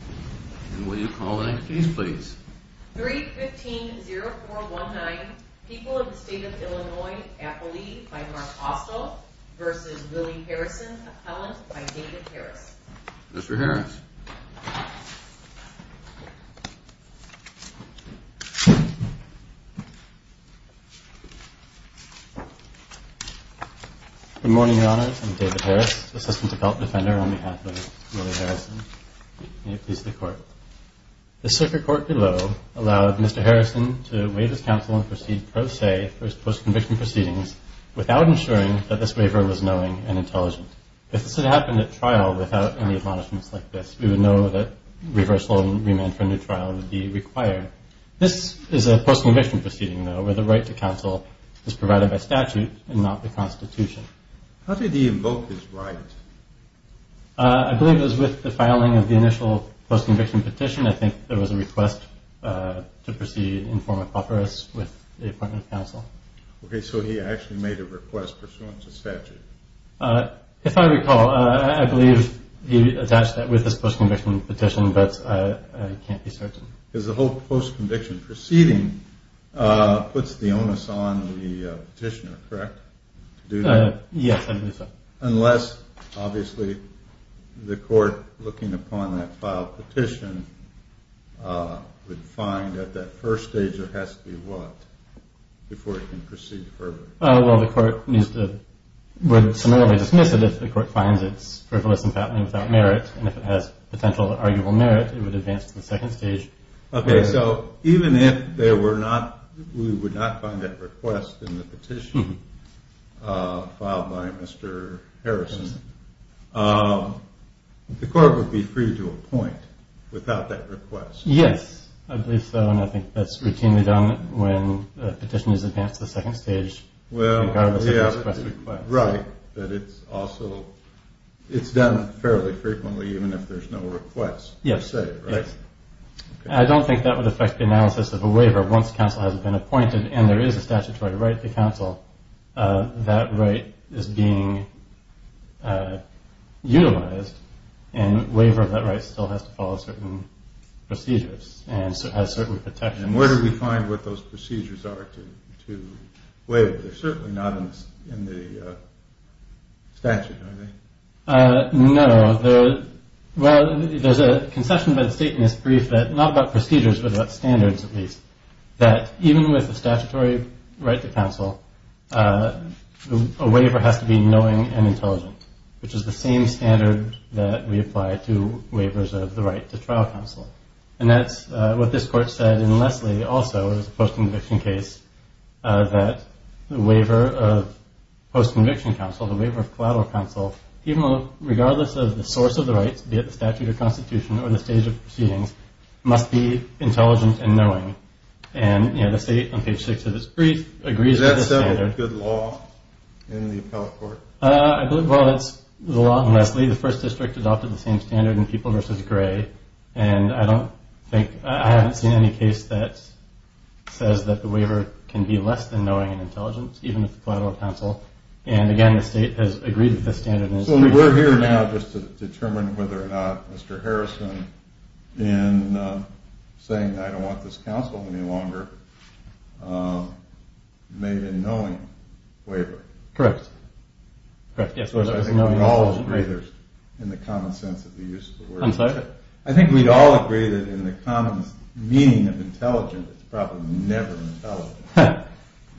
And will you call the next case please? 315-0419, People of the State of Illinois, Appleby v. Mark Austell v. Willie Harrison, appellant by David Harris. Mr. Harris. Good morning, your honors. I'm David Harris, assistant defender on behalf of Willie Harrison. May it please the court. The circuit court below allowed Mr. Harrison to waive his counsel and proceed pro se for his post-conviction proceedings without ensuring that this waiver was knowing and intelligent. If this had happened at trial without any admonishments like this, we would know that reversal and remand for a new trial would be required. This is a post-conviction proceeding, though, where the right to counsel is provided by statute and not the Constitution. How did he invoke his right? I believe it was with the filing of the initial post-conviction petition. I think there was a request to proceed in form of offeras with the appointment of counsel. Okay, so he actually made a request pursuant to statute. If I recall, I believe he attached that with his post-conviction petition, but I can't be certain. Because the whole post-conviction proceeding puts the onus on the petitioner, correct? Yes, I believe so. Unless, obviously, the court, looking upon that filed petition, would find at that first stage there has to be what before it can proceed further? Well, the court would summarily dismiss it if the court finds it frivolous and fattening without merit. And if it has potential arguable merit, it would advance to the second stage. Okay, so even if we would not find that request in the petition filed by Mr. Harrison, the court would be free to appoint without that request? Yes, I believe so, and I think that's routinely done when a petition is advanced to the second stage regardless of the request. Right, but it's also done fairly frequently even if there's no request per se, right? Yes, I don't think that would affect the analysis of a waiver once counsel has been appointed and there is a statutory right to counsel. That right is being utilized, and waiver of that right still has to follow certain procedures and has certain protections. And where do we find what those procedures are to waiver? They're certainly not in the statute, are they? No, well, there's a concession by the state in this brief that not about procedures but about standards at least, that even with the statutory right to counsel, a waiver has to be knowing and intelligent, which is the same standard that we apply to waivers of the right to trial counsel. And that's what this court said in Leslie also, it was a post-conviction case, that the waiver of post-conviction counsel, the waiver of collateral counsel, even though regardless of the source of the rights, be it the statute or constitution or the stage of proceedings, must be intelligent and knowing. And the state on page 6 of this brief agrees with this standard. Is that still a good law in the appellate court? I believe, well, it's the law in Leslie. The first district adopted the same standard in People v. Gray. And I don't think, I haven't seen any case that says that the waiver can be less than knowing and intelligent, even with collateral counsel. And again, the state has agreed with this standard. So we're here now just to determine whether or not Mr. Harrison, in saying I don't want this counsel any longer, made a knowing waiver. Correct. I think we'd all agree that in the common sense of the use of the word. I'm sorry? I think we'd all agree that in the common meaning of intelligent, it's probably never intelligent. I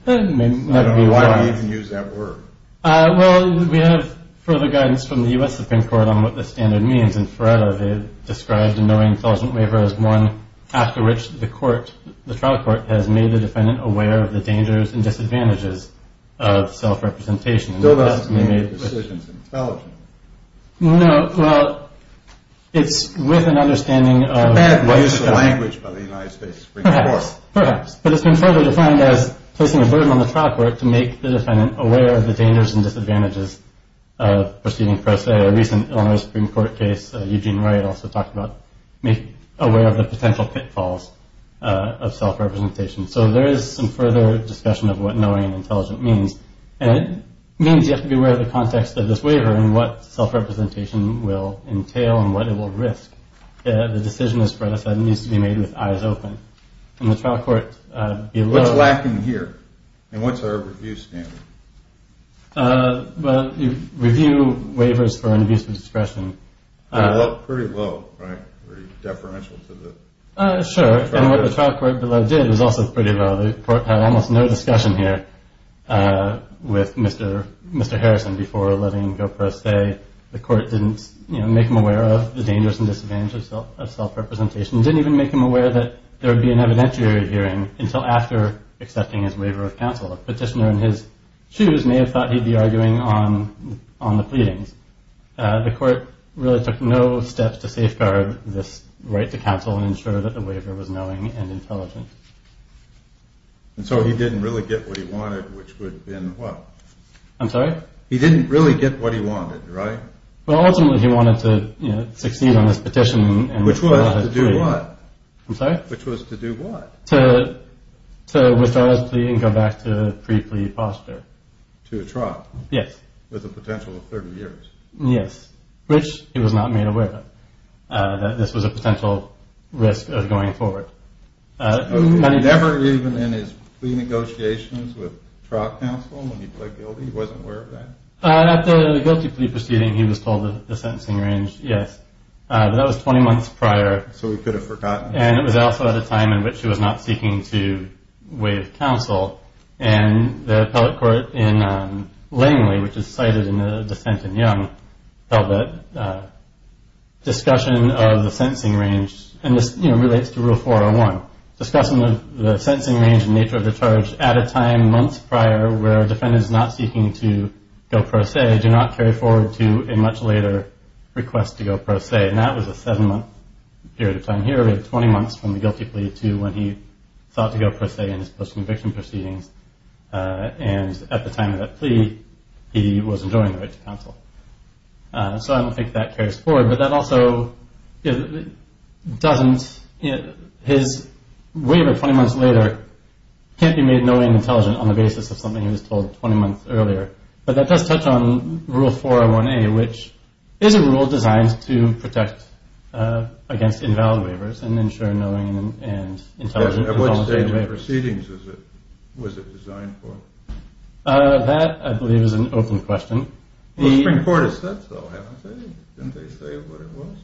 don't know why we even use that word. Well, we have further guidance from the U.S. Supreme Court on what this standard means. They described a knowing intelligent waiver as one after which the court, the trial court, has made the defendant aware of the dangers and disadvantages of self-representation. Still doesn't mean the decision's intelligent. No, well, it's with an understanding of what the government. It's a bad use of language by the United States Supreme Court. Perhaps, perhaps. But it's been further defined as placing a burden on the trial court to make the defendant aware of the dangers and disadvantages of proceeding pro se. A recent Illinois Supreme Court case, Eugene Wright also talked about making aware of the potential pitfalls of self-representation. So there is some further discussion of what knowing intelligent means. And it means you have to be aware of the context of this waiver and what self-representation will entail and what it will risk. The decision, as Fred has said, needs to be made with eyes open. And the trial court below. What's lacking here? And what's our review standard? Well, you review waivers for an abuse of discretion. Pretty low, right? Pretty deferential to the trial court. Sure. And what the trial court below did was also pretty low. The court had almost no discussion here with Mr. Harrison before letting go pro se. The court didn't make him aware of the dangers and disadvantages of self-representation. Didn't even make him aware that there would be an evidentiary hearing until after accepting his waiver of counsel. A petitioner in his shoes may have thought he'd be arguing on the pleadings. The court really took no steps to safeguard this right to counsel and ensure that the waiver was knowing and intelligent. And so he didn't really get what he wanted, which would have been what? I'm sorry? He didn't really get what he wanted, right? Well, ultimately he wanted to succeed on this petition. Which was to do what? I'm sorry? Which was to do what? To withdraw his plea and go back to the pre-plea posture. To a trial? Yes. With a potential of 30 years? Yes. Which he was not made aware of, that this was a potential risk of going forward. Never even in his plea negotiations with trial counsel when he pled guilty? He wasn't aware of that? After the guilty plea proceeding, he was told that the sentencing range, yes. But that was 20 months prior. So he could have forgotten. And it was also at a time in which he was not seeking to waive counsel. And the appellate court in Langley, which is cited in the dissent in Young, held that discussion of the sentencing range, and this relates to Rule 401, discussing the sentencing range and nature of the charge at a time months prior where a defendant is not seeking to go pro se, do not carry forward to a much later request to go pro se. And that was a seven-month period of time. Here we have 20 months from the guilty plea to when he thought to go pro se in his post-conviction proceedings. And at the time of that plea, he was enjoying the right to counsel. So I don't think that carries forward. But that also doesn't, his waiver 20 months later can't be made knowing and intelligent on the basis of something he was told 20 months earlier. But that does touch on Rule 401A, which is a rule designed to protect against invalid waivers and ensure knowing and intelligent on the basis of waivers. At what stage of proceedings was it designed for? That, I believe, is an open question. The Supreme Court has said so, haven't they? Didn't they say what it was?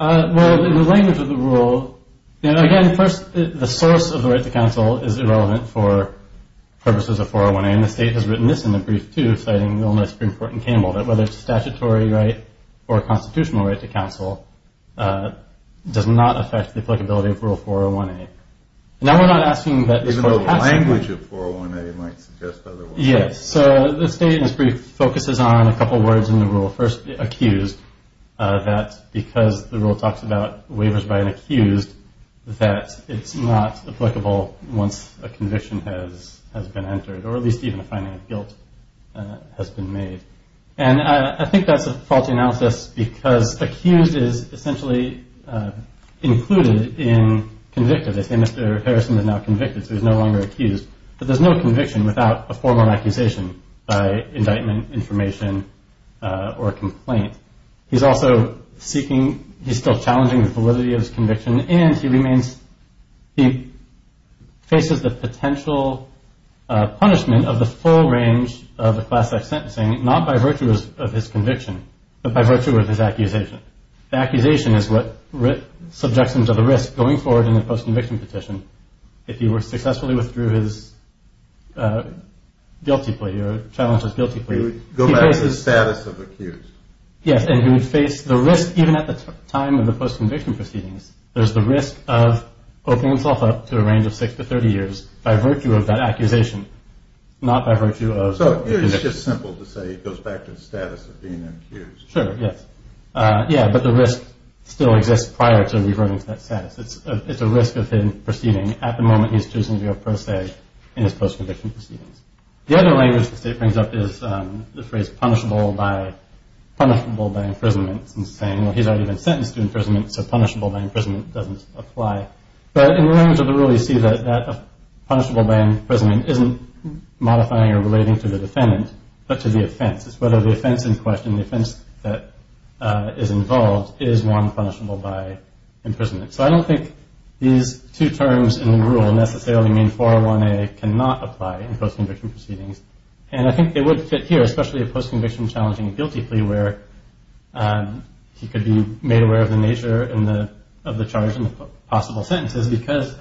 Well, in the language of the rule, again, first the source of the right to counsel is irrelevant for purposes of 401A. And the State has written this in a brief, too, citing the Illinois Supreme Court in Campbell, that whether it's a statutory right or a constitutional right to counsel does not affect the applicability of Rule 401A. Now we're not asking that the source has to be. Even the language of 401A might suggest otherwise. Yes. So the State, in this brief, focuses on a couple words in the rule. First, accused, that because the rule talks about waivers by an accused, that it's not applicable once a conviction has been entered, or at least even a finding of guilt has been made. And I think that's a faulty analysis because accused is essentially included in convicted. They say Mr. Harrison is now convicted, so he's no longer accused. But there's no conviction without a formal accusation by indictment, information, or a complaint. He's also seeking, he's still challenging the validity of his conviction, and he faces the potential punishment of the full range of the class-X sentencing, not by virtue of his conviction, but by virtue of his accusation. The accusation is what subjects him to the risk going forward in the post-conviction petition. If he were to successfully withdraw his guilty plea or challenge his guilty plea, He would go back to the status of accused. Yes, and he would face the risk even at the time of the post-conviction proceedings. There's the risk of opening himself up to a range of six to 30 years by virtue of that accusation, not by virtue of his conviction. So it's just simple to say he goes back to the status of being accused. Sure, yes. Yeah, but the risk still exists prior to reverting to that status. It's a risk of him proceeding at the moment he's choosing to go pro se in his post-conviction proceedings. The other language the state brings up is the phrase punishable by imprisonments and saying, well, he's already been sentenced to imprisonment, so punishable by imprisonment doesn't apply. But in the language of the rule, you see that punishable by imprisonment isn't modifying or relating to the defendant, but to the offense. It's whether the offense in question, the offense that is involved, is one punishable by imprisonment. So I don't think these two terms in the rule necessarily mean 401A cannot apply in post-conviction proceedings. And I think they would fit here, especially a post-conviction challenging guilty plea, where he could be made aware of the nature of the charge and the possible sentences, because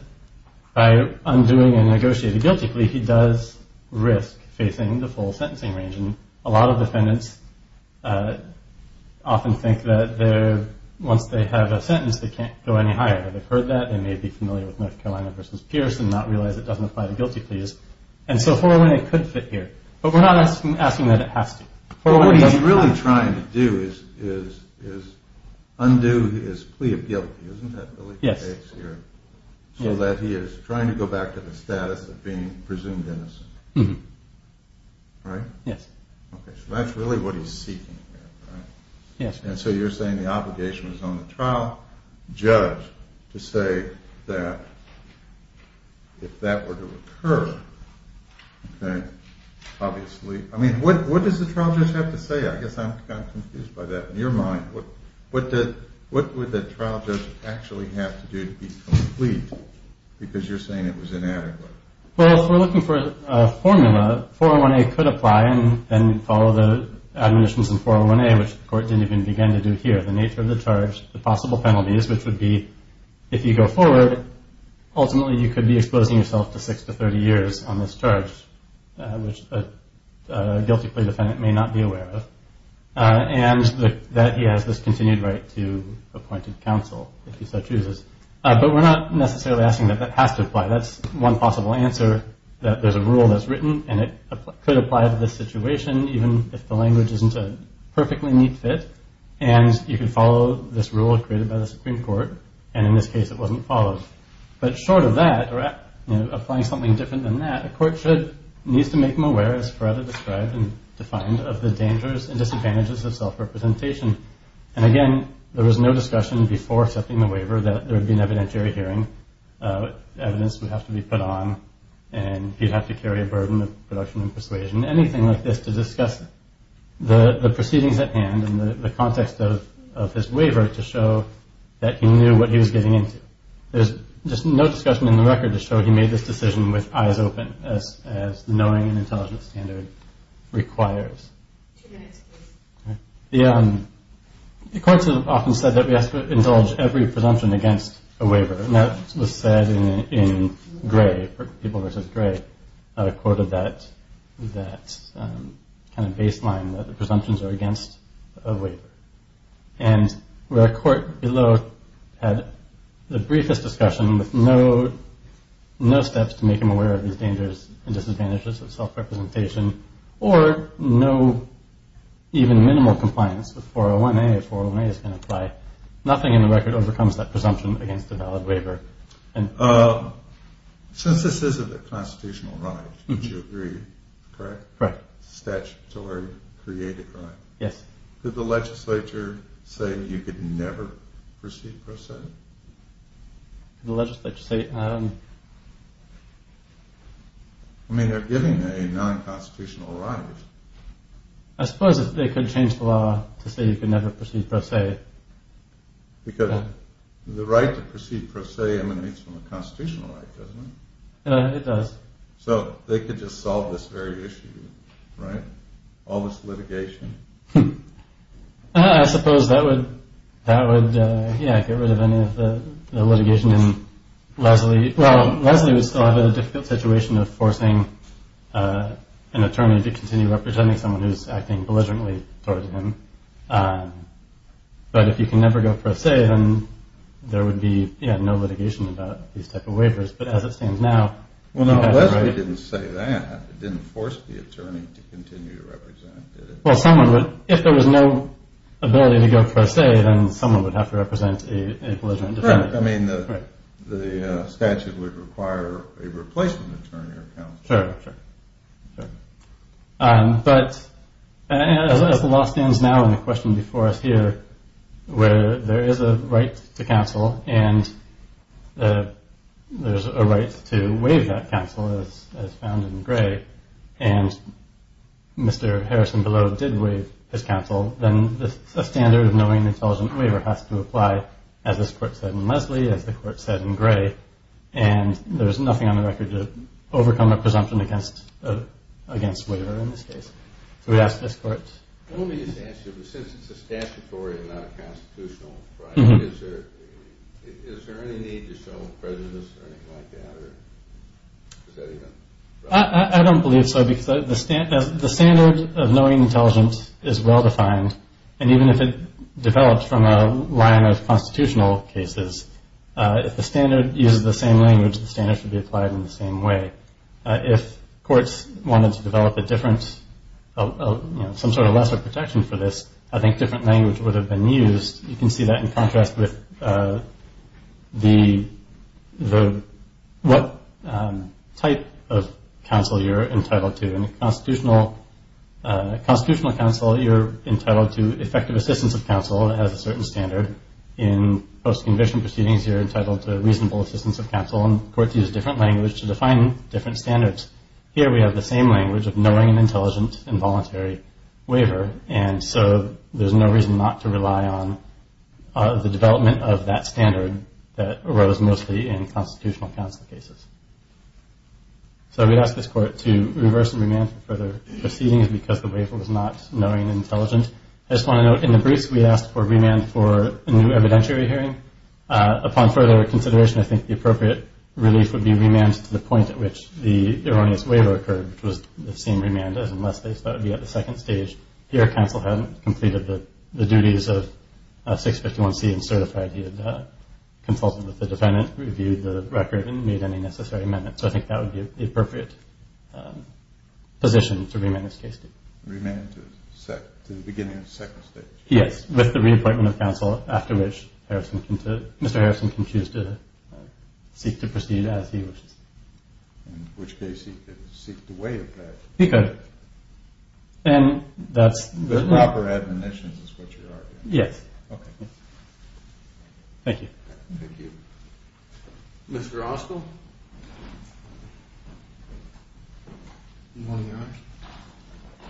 by undoing a negotiated guilty plea, he does risk facing the full sentencing range. And a lot of defendants often think that once they have a sentence, they can't go any higher. They've heard that. They may be familiar with North Carolina v. Pierce and not realize it doesn't apply to guilty pleas. And so 401A could fit here. But we're not asking that it has to. What he's really trying to do is undo his plea of guilty, isn't that the legal case here? Yes. So that he is trying to go back to the status of being presumed innocent, right? Yes. Okay, so that's really what he's seeking here, right? Yes. And so you're saying the obligation is on the trial judge to say that if that were to occur, okay, obviously, I mean, what does the trial judge have to say? I guess I'm kind of confused by that. In your mind, what would the trial judge actually have to do to be complete? Because you're saying it was inadequate. Well, if we're looking for a formula, 401A could apply and follow the admonitions in 401A, which the court didn't even begin to do here, the nature of the charge, the possible penalties, which would be if you go forward, ultimately you could be exposing yourself to six to 30 years on this charge, which a guilty plea defendant may not be aware of, and that he has this continued right to appointed counsel if he so chooses. But we're not necessarily asking that that has to apply. That's one possible answer, that there's a rule that's written, and it could apply to this situation even if the language isn't a perfectly neat fit, and you can follow this rule created by the Supreme Court, and in this case it wasn't followed. But short of that, or applying something different than that, a court needs to make them aware, as Coretta described and defined, of the dangers and disadvantages of self-representation. And, again, there was no discussion before accepting the waiver that there would be an evidentiary hearing, evidence would have to be put on, and he'd have to carry a burden of production and persuasion, anything like this to discuss the proceedings at hand and the context of his waiver to show that he knew what he was getting into. There's just no discussion in the record to show he made this decision with eyes open, as the knowing and intelligence standard requires. Two minutes, please. The courts have often said that we have to indulge every presumption against a waiver, and that was said in Gray, People v. Gray, quoted that kind of baseline, that the presumptions are against a waiver. And where a court below had the briefest discussion with no steps to make him aware of these dangers and disadvantages of self-representation, or no even minimal compliance with 401A if 401A is going to apply, nothing in the record overcomes that presumption against a valid waiver. Since this is a constitutional right, would you agree, correct? Correct. Statutory created right. Yes. Did the legislature say you could never proceed pro se? Did the legislature say? I mean, they're giving a non-constitutional right. I suppose if they could change the law to say you could never proceed pro se. Because the right to proceed pro se emanates from a constitutional right, doesn't it? It does. So they could just solve this very issue, right? All this litigation. I suppose that would get rid of any of the litigation in Leslie. Well, Leslie would still have a difficult situation of forcing an attorney to continue representing someone who's acting belligerently towards him. But if you can never go pro se, then there would be no litigation about these type of waivers. But as it stands now, Well, no, Leslie didn't say that. Well, if there was no ability to go pro se, then someone would have to represent a belligerent defendant. I mean, the statute would require a replacement attorney or counsel. Sure, sure. But as the law stands now and the question before us here, where there is a right to counsel and there's a right to waive that counsel, as found in Gray, and Mr. Harrison Below did waive his counsel, then a standard of knowing an intelligent waiver has to apply, as this court said in Leslie, as the court said in Gray. And there's nothing on the record to overcome a presumption against waiver in this case. So we'd ask this court. Let me just ask you, since it's a statutory and not a constitutional right, is there any need to show a prejudice or anything like that? I don't believe so, because the standard of knowing intelligent is well-defined, and even if it developed from a line of constitutional cases, if the standard uses the same language, the standard should be applied in the same way. If courts wanted to develop some sort of lesser protection for this, I think different language would have been used. You can see that in contrast with what type of counsel you're entitled to. In a constitutional counsel, you're entitled to effective assistance of counsel, and it has a certain standard. In post-conviction proceedings, you're entitled to reasonable assistance of counsel, and courts use different language to define different standards. Here we have the same language of knowing an intelligent involuntary waiver, and so there's no reason not to rely on the development of that standard that arose mostly in constitutional counsel cases. So we'd ask this court to reverse and remand for further proceedings because the waiver was not knowing and intelligent. I just want to note, in the briefs, we asked for remand for a new evidentiary hearing. Upon further consideration, I think the appropriate relief would be remand to the point at which the erroneous waiver occurred, which was the same remand as unless they thought it would be at the second stage. Here counsel hadn't completed the duties of 651C and certified. He had consulted with the defendant, reviewed the record, and made any necessary amendments. So I think that would be the appropriate position to remand this case to. Remand to the beginning of the second stage? Yes, with the reappointment of counsel, after which Mr. Harrison can choose to seek to proceed as he wishes. In which case he could seek to waive that. He could. The proper admonition is what you're arguing. Yes. Okay. Thank you. Thank you. Mr. Ostle?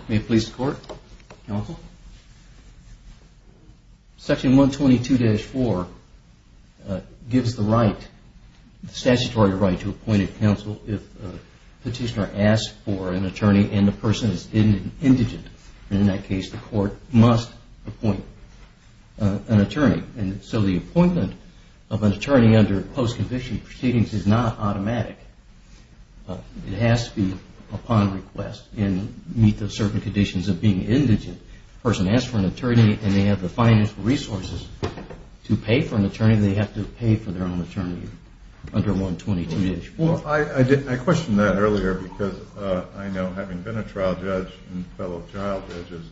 May it please the Court? Counsel? Section 122-4 gives the statutory right to appoint a counsel if a petitioner asks for an attorney and the person is indigent. In that case, the Court must appoint an attorney. So the appointment of an attorney under post-conviction proceedings is not automatic. It has to be upon request and meet the certain conditions of being indigent. If a person asks for an attorney and they have the financial resources to pay for an attorney, they have to pay for their own attorney under 122-4. I questioned that earlier because I know, having been a trial judge and fellow trial judges,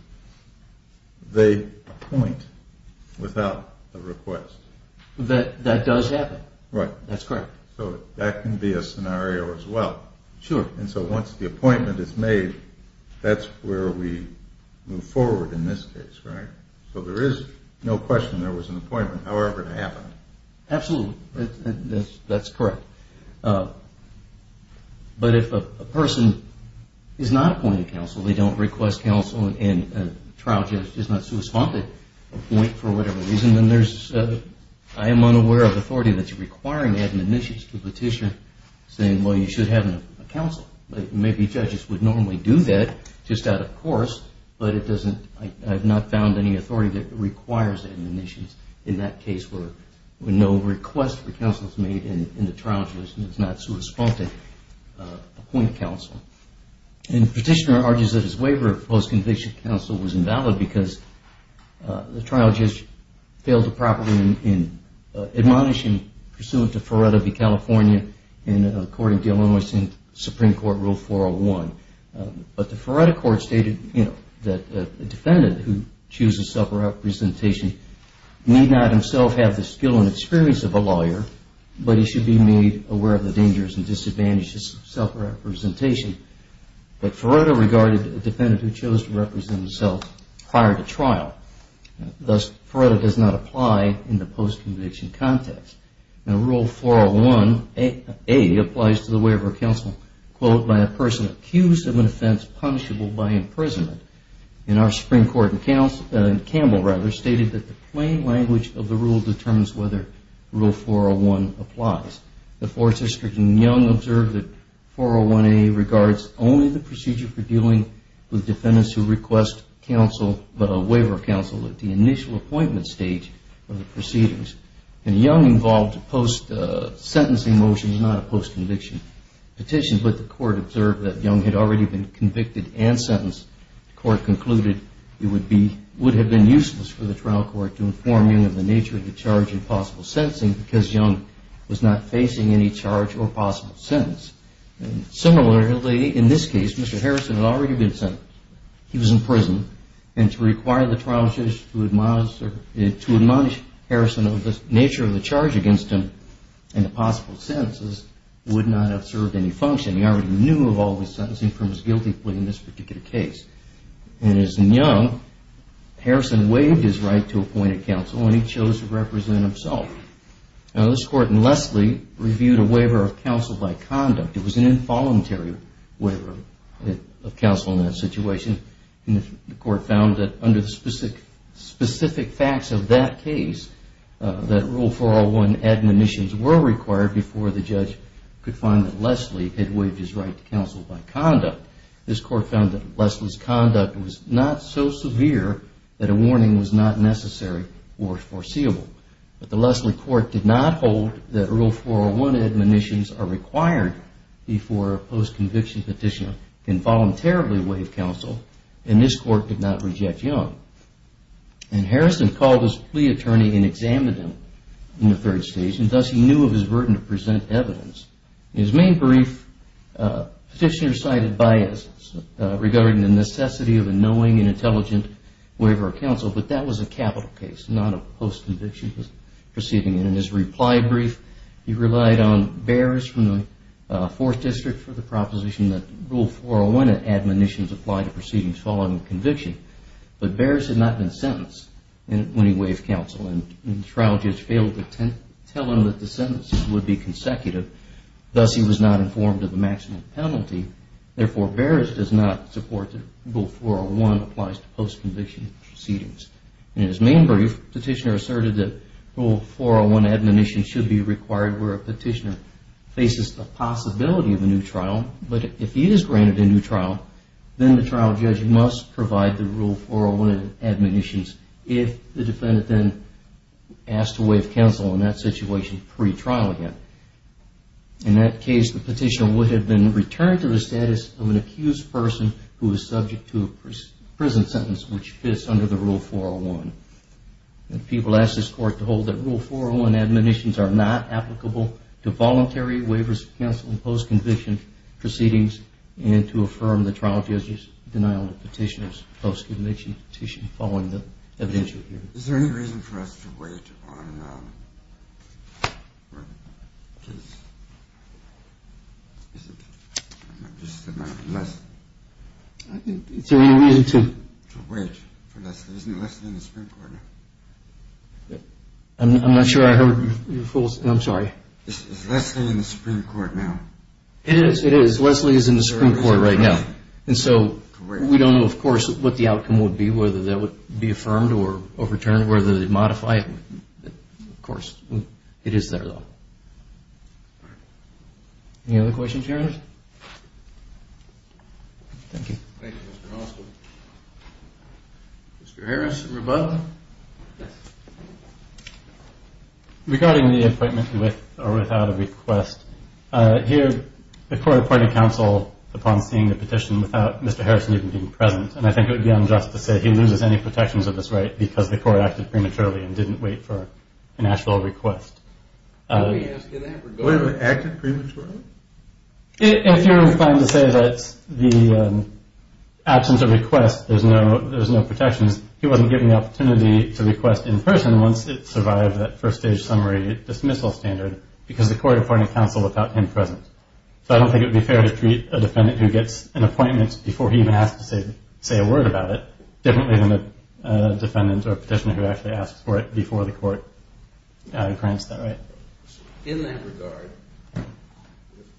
they appoint without a request. That does happen. Right. That's correct. So that can be a scenario as well. Sure. And so once the appointment is made, that's where we move forward in this case, right? So there is no question there was an appointment, however it happened. Absolutely. That's correct. But if a person is not appointed counsel, they don't request counsel, and a trial judge is not supposed to appoint for whatever reason, I am unaware of authority that's requiring administration to petition saying, well, you should have a counsel. Maybe judges would normally do that just out of course, but I have not found any authority that requires administration in that case where no request for counsel is made and the trial judge is not supposed to appoint counsel. And the petitioner argues that his waiver of post-conviction counsel was invalid because the trial judge failed to properly admonish him pursuant to Feretta v. California and according to Illinois Supreme Court Rule 401. But the Feretta court stated that a defendant who chooses self-representation need not himself have the skill and experience of a lawyer, but he should be made aware of the dangers and disadvantages of self-representation. But Feretta regarded a defendant who chose to represent himself prior to trial. Thus, Feretta does not apply in the post-conviction context. Now, Rule 401A applies to the waiver of counsel, quote, by a person accused of an offense punishable by imprisonment. And our Supreme Court, Campbell rather, stated that the plain language of the rule determines whether Rule 401 applies. The fourth district in Young observed that 401A regards only the procedure for dealing with defendants who request counsel but a waiver of counsel at the initial appointment stage of the proceedings. And Young involved a post-sentencing motion, not a post-conviction petition. But the court observed that Young had already been convicted and sentenced. The court concluded it would have been useless for the trial court to inform Young of the nature of the charge and possible sentencing because Young was not facing any charge or possible sentence. Similarly, in this case, Mr. Harrison had already been sentenced. He was in prison, and to require the trial judge to admonish Harrison of the nature of the charge against him and the possible sentences would not have served any function. He already knew of all the sentencing from his guilty plea in this particular case. And as in Young, Harrison waived his right to appoint a counsel, and he chose to represent himself. Now, this court in Leslie reviewed a waiver of counsel by conduct. It was an involuntary waiver of counsel in that situation, and the court found that under the specific facts of that case, that Rule 401 admonitions were required before the judge could find that Leslie had waived his right to counsel by conduct. This court found that Leslie's conduct was not so severe that a warning was not necessary or foreseeable. But the Leslie court did not hold that Rule 401 admonitions are required before a post-conviction petitioner can voluntarily waive counsel, and this court did not reject Young. And Harrison called his plea attorney and examined him in the third stage, and thus he knew of his burden to present evidence. In his main brief, petitioners cited biases regarding the necessity of a knowing and intelligent waiver of counsel, but that was a capital case, not a post-conviction proceeding. And in his reply brief, he relied on Behrs from the Fourth District for the proposition that Rule 401 admonitions apply to proceedings following conviction. But Behrs had not been sentenced when he waived counsel, and the trial judge failed to tell him that the sentences would be consecutive. Thus, he was not informed of the maximum penalty. Therefore, Behrs does not support that Rule 401 applies to post-conviction proceedings. In his main brief, the petitioner asserted that Rule 401 admonitions should be required where a petitioner faces the possibility of a new trial, but if he is granted a new trial, then the trial judge must provide the Rule 401 admonitions if the defendant then asks to waive counsel in that situation pre-trial again. In that case, the petitioner would have been returned to the status of an accused person who is subject to a prison sentence which fits under the Rule 401. People ask this Court to hold that Rule 401 admonitions are not applicable to voluntary waivers of counsel in post-conviction proceedings and to affirm the trial judge's denial of the petitioner's post-conviction petition following the evidential hearing. Is there any reason for us to wait on... Is there any reason to... ...to wait for Leslie? Isn't Leslie in the Supreme Court now? I'm not sure I heard your full... I'm sorry. Is Leslie in the Supreme Court now? It is. It is. Leslie is in the Supreme Court right now. And so we don't know, of course, what the outcome would be, whether that would be affirmed or overturned, whether they modify it. Of course, it is there, though. Any other questions, Your Honor? Thank you. Thank you, Mr. Osler. Mr. Harrison, rebuttal? Regarding the appointment with or without a request, here the Court appointed counsel upon seeing the petition without Mr. Harrison even being present, and I think it would be unjust to say he loses any protections of this right because the Court acted prematurely and didn't wait for an actual request. Did we ask you that? Wait a minute, acted prematurely? If you're inclined to say that the absence of request, there's no protections, he wasn't given the opportunity to request in person once it survived that first-stage summary dismissal standard because the Court appointed counsel without him present. So I don't think it would be fair to treat a defendant who gets an appointment before he even has to say a word about it differently than a defendant or petitioner who actually asks for it before the Court grants that right. In that regard,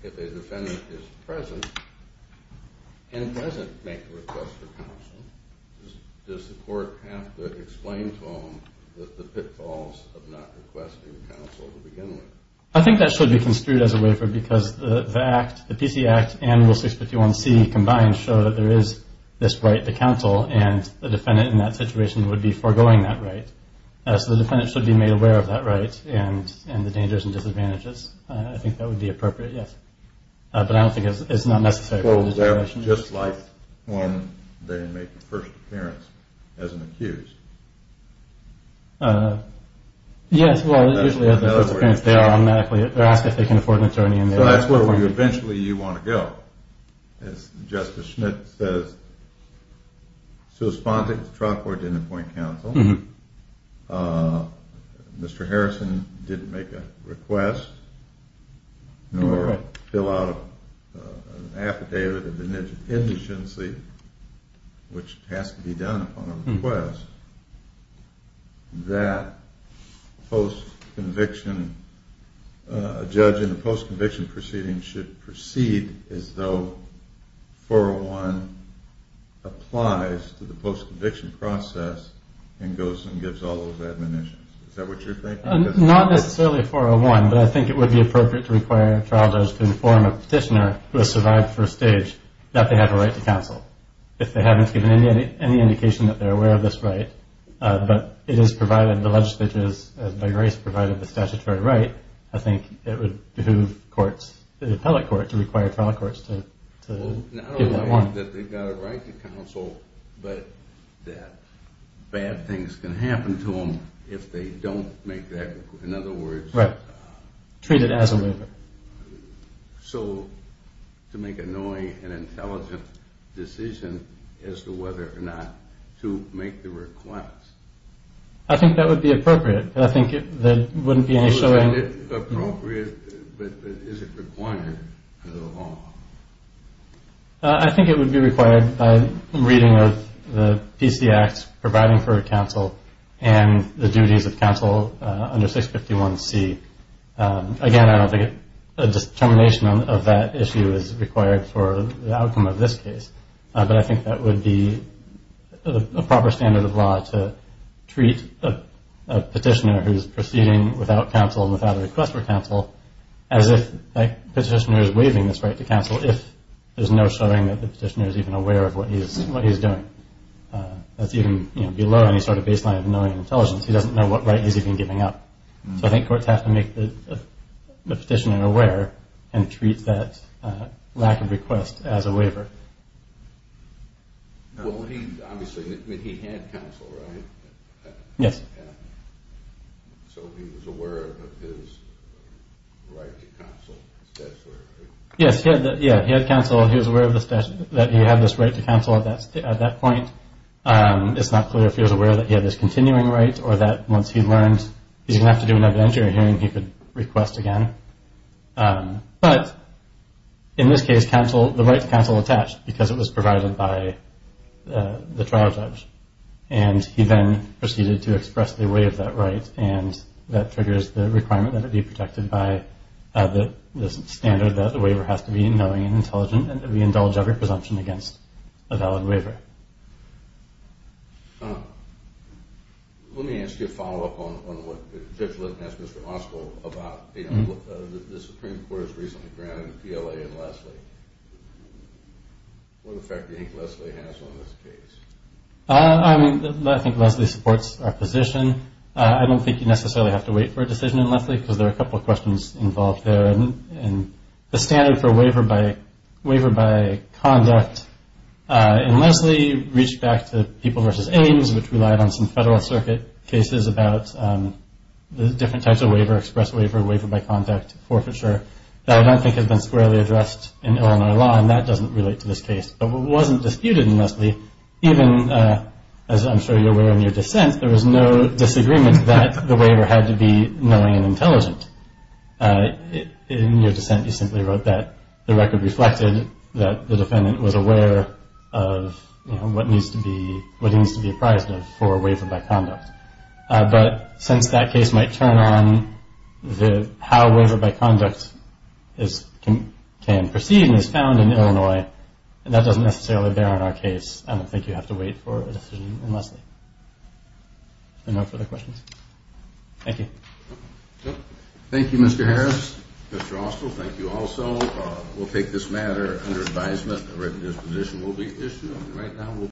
if a defendant is present and doesn't make a request for counsel, does the Court have to explain to him the pitfalls of not requesting counsel to begin with? I think that should be construed as a waiver because the PC Act and Rule 651C combined show that there is this right to counsel, and the defendant in that situation would be foregoing that right. So the defendant should be made aware of that right and the dangers and disadvantages. I think that would be appropriate, yes. But I don't think it's necessary. Well, that was just like when they make the first appearance as an accused. Yes, well, usually as the first appearance they are asked if they can afford an attorney. So that's where eventually you want to go. As Justice Schmitt says, Susponding the trial court didn't appoint counsel, Mr. Harrison didn't make a request, nor fill out an affidavit of indigency, which has to be done upon a request, that a judge in a post-conviction proceeding should proceed as though 401 applies to the post-conviction process and goes and gives all of the admonitions. Is that what you're thinking? Not necessarily 401, but I think it would be appropriate to require a trial judge to inform a petitioner who has survived first stage that they have a right to counsel. If they haven't given any indication that they're aware of this right, but it is provided, the legislature has by grace provided the statutory right, I think it would behoove courts, the appellate court, to require trial courts to give that warning. Not only that they've got a right to counsel, but that bad things can happen to them if they don't make that, in other words... Right, treat it as a waiver. So to make a knowing and intelligent decision as to whether or not to make the request. I think that would be appropriate. I think there wouldn't be any showing... Would you find it appropriate, but is it required under the law? I think it would be required by reading of the PC Act providing for counsel and the duties of counsel under 651C. Again, I don't think a determination of that issue is required for the outcome of this case, but I think that would be a proper standard of law to treat a petitioner who's proceeding without counsel and without a request for counsel as if that petitioner is waiving this right to counsel if there's no showing that the petitioner is even aware of what he's doing. That's even below any sort of baseline of knowing and intelligence. He doesn't know what right he's even giving up. So I think courts have to make the petitioner aware and treat that lack of request as a waiver. Well, he obviously had counsel, right? Yes. So he was aware of his right to counsel. Yes, he had counsel. He was aware that he had this right to counsel at that point. It's not clear if he was aware that he had this continuing right or that once he learned he's going to have to do an evidentiary hearing, he could request again. But in this case, the right to counsel attached because it was provided by the trial judge, and he then proceeded to express the way of that right, and that triggers the requirement that it be protected by the standard that the waiver has to be knowing and intelligent and that we indulge every presumption against a valid waiver. Okay. Let me ask you a follow-up on what Judge Linton asked Mr. Roscoe about. The Supreme Court has recently granted PLA and Leslie. What effect do you think Leslie has on this case? I think Leslie supports our position. I don't think you necessarily have to wait for a decision in Leslie because there are a couple of questions involved there. The standard for waiver by conduct in Leslie reached back to People v. Ames, which relied on some Federal Circuit cases about the different types of waiver, express waiver, waiver by conduct, forfeiture, that I don't think have been squarely addressed in Illinois law, and that doesn't relate to this case. But what wasn't disputed in Leslie, even as I'm sure you're aware in your dissent, there was no disagreement that the waiver had to be knowing and intelligent. In your dissent, you simply wrote that the record reflected that the defendant was aware of, you know, what needs to be apprised of for waiver by conduct. But since that case might turn on how waiver by conduct can proceed and is found in Illinois, that doesn't necessarily bear on our case. I don't think you have to wait for a decision in Leslie. Are there no further questions? Thank you. Thank you, Mr. Harris. Mr. Austell, thank you also. We'll take this matter under advisement. I recognize the position will be issued.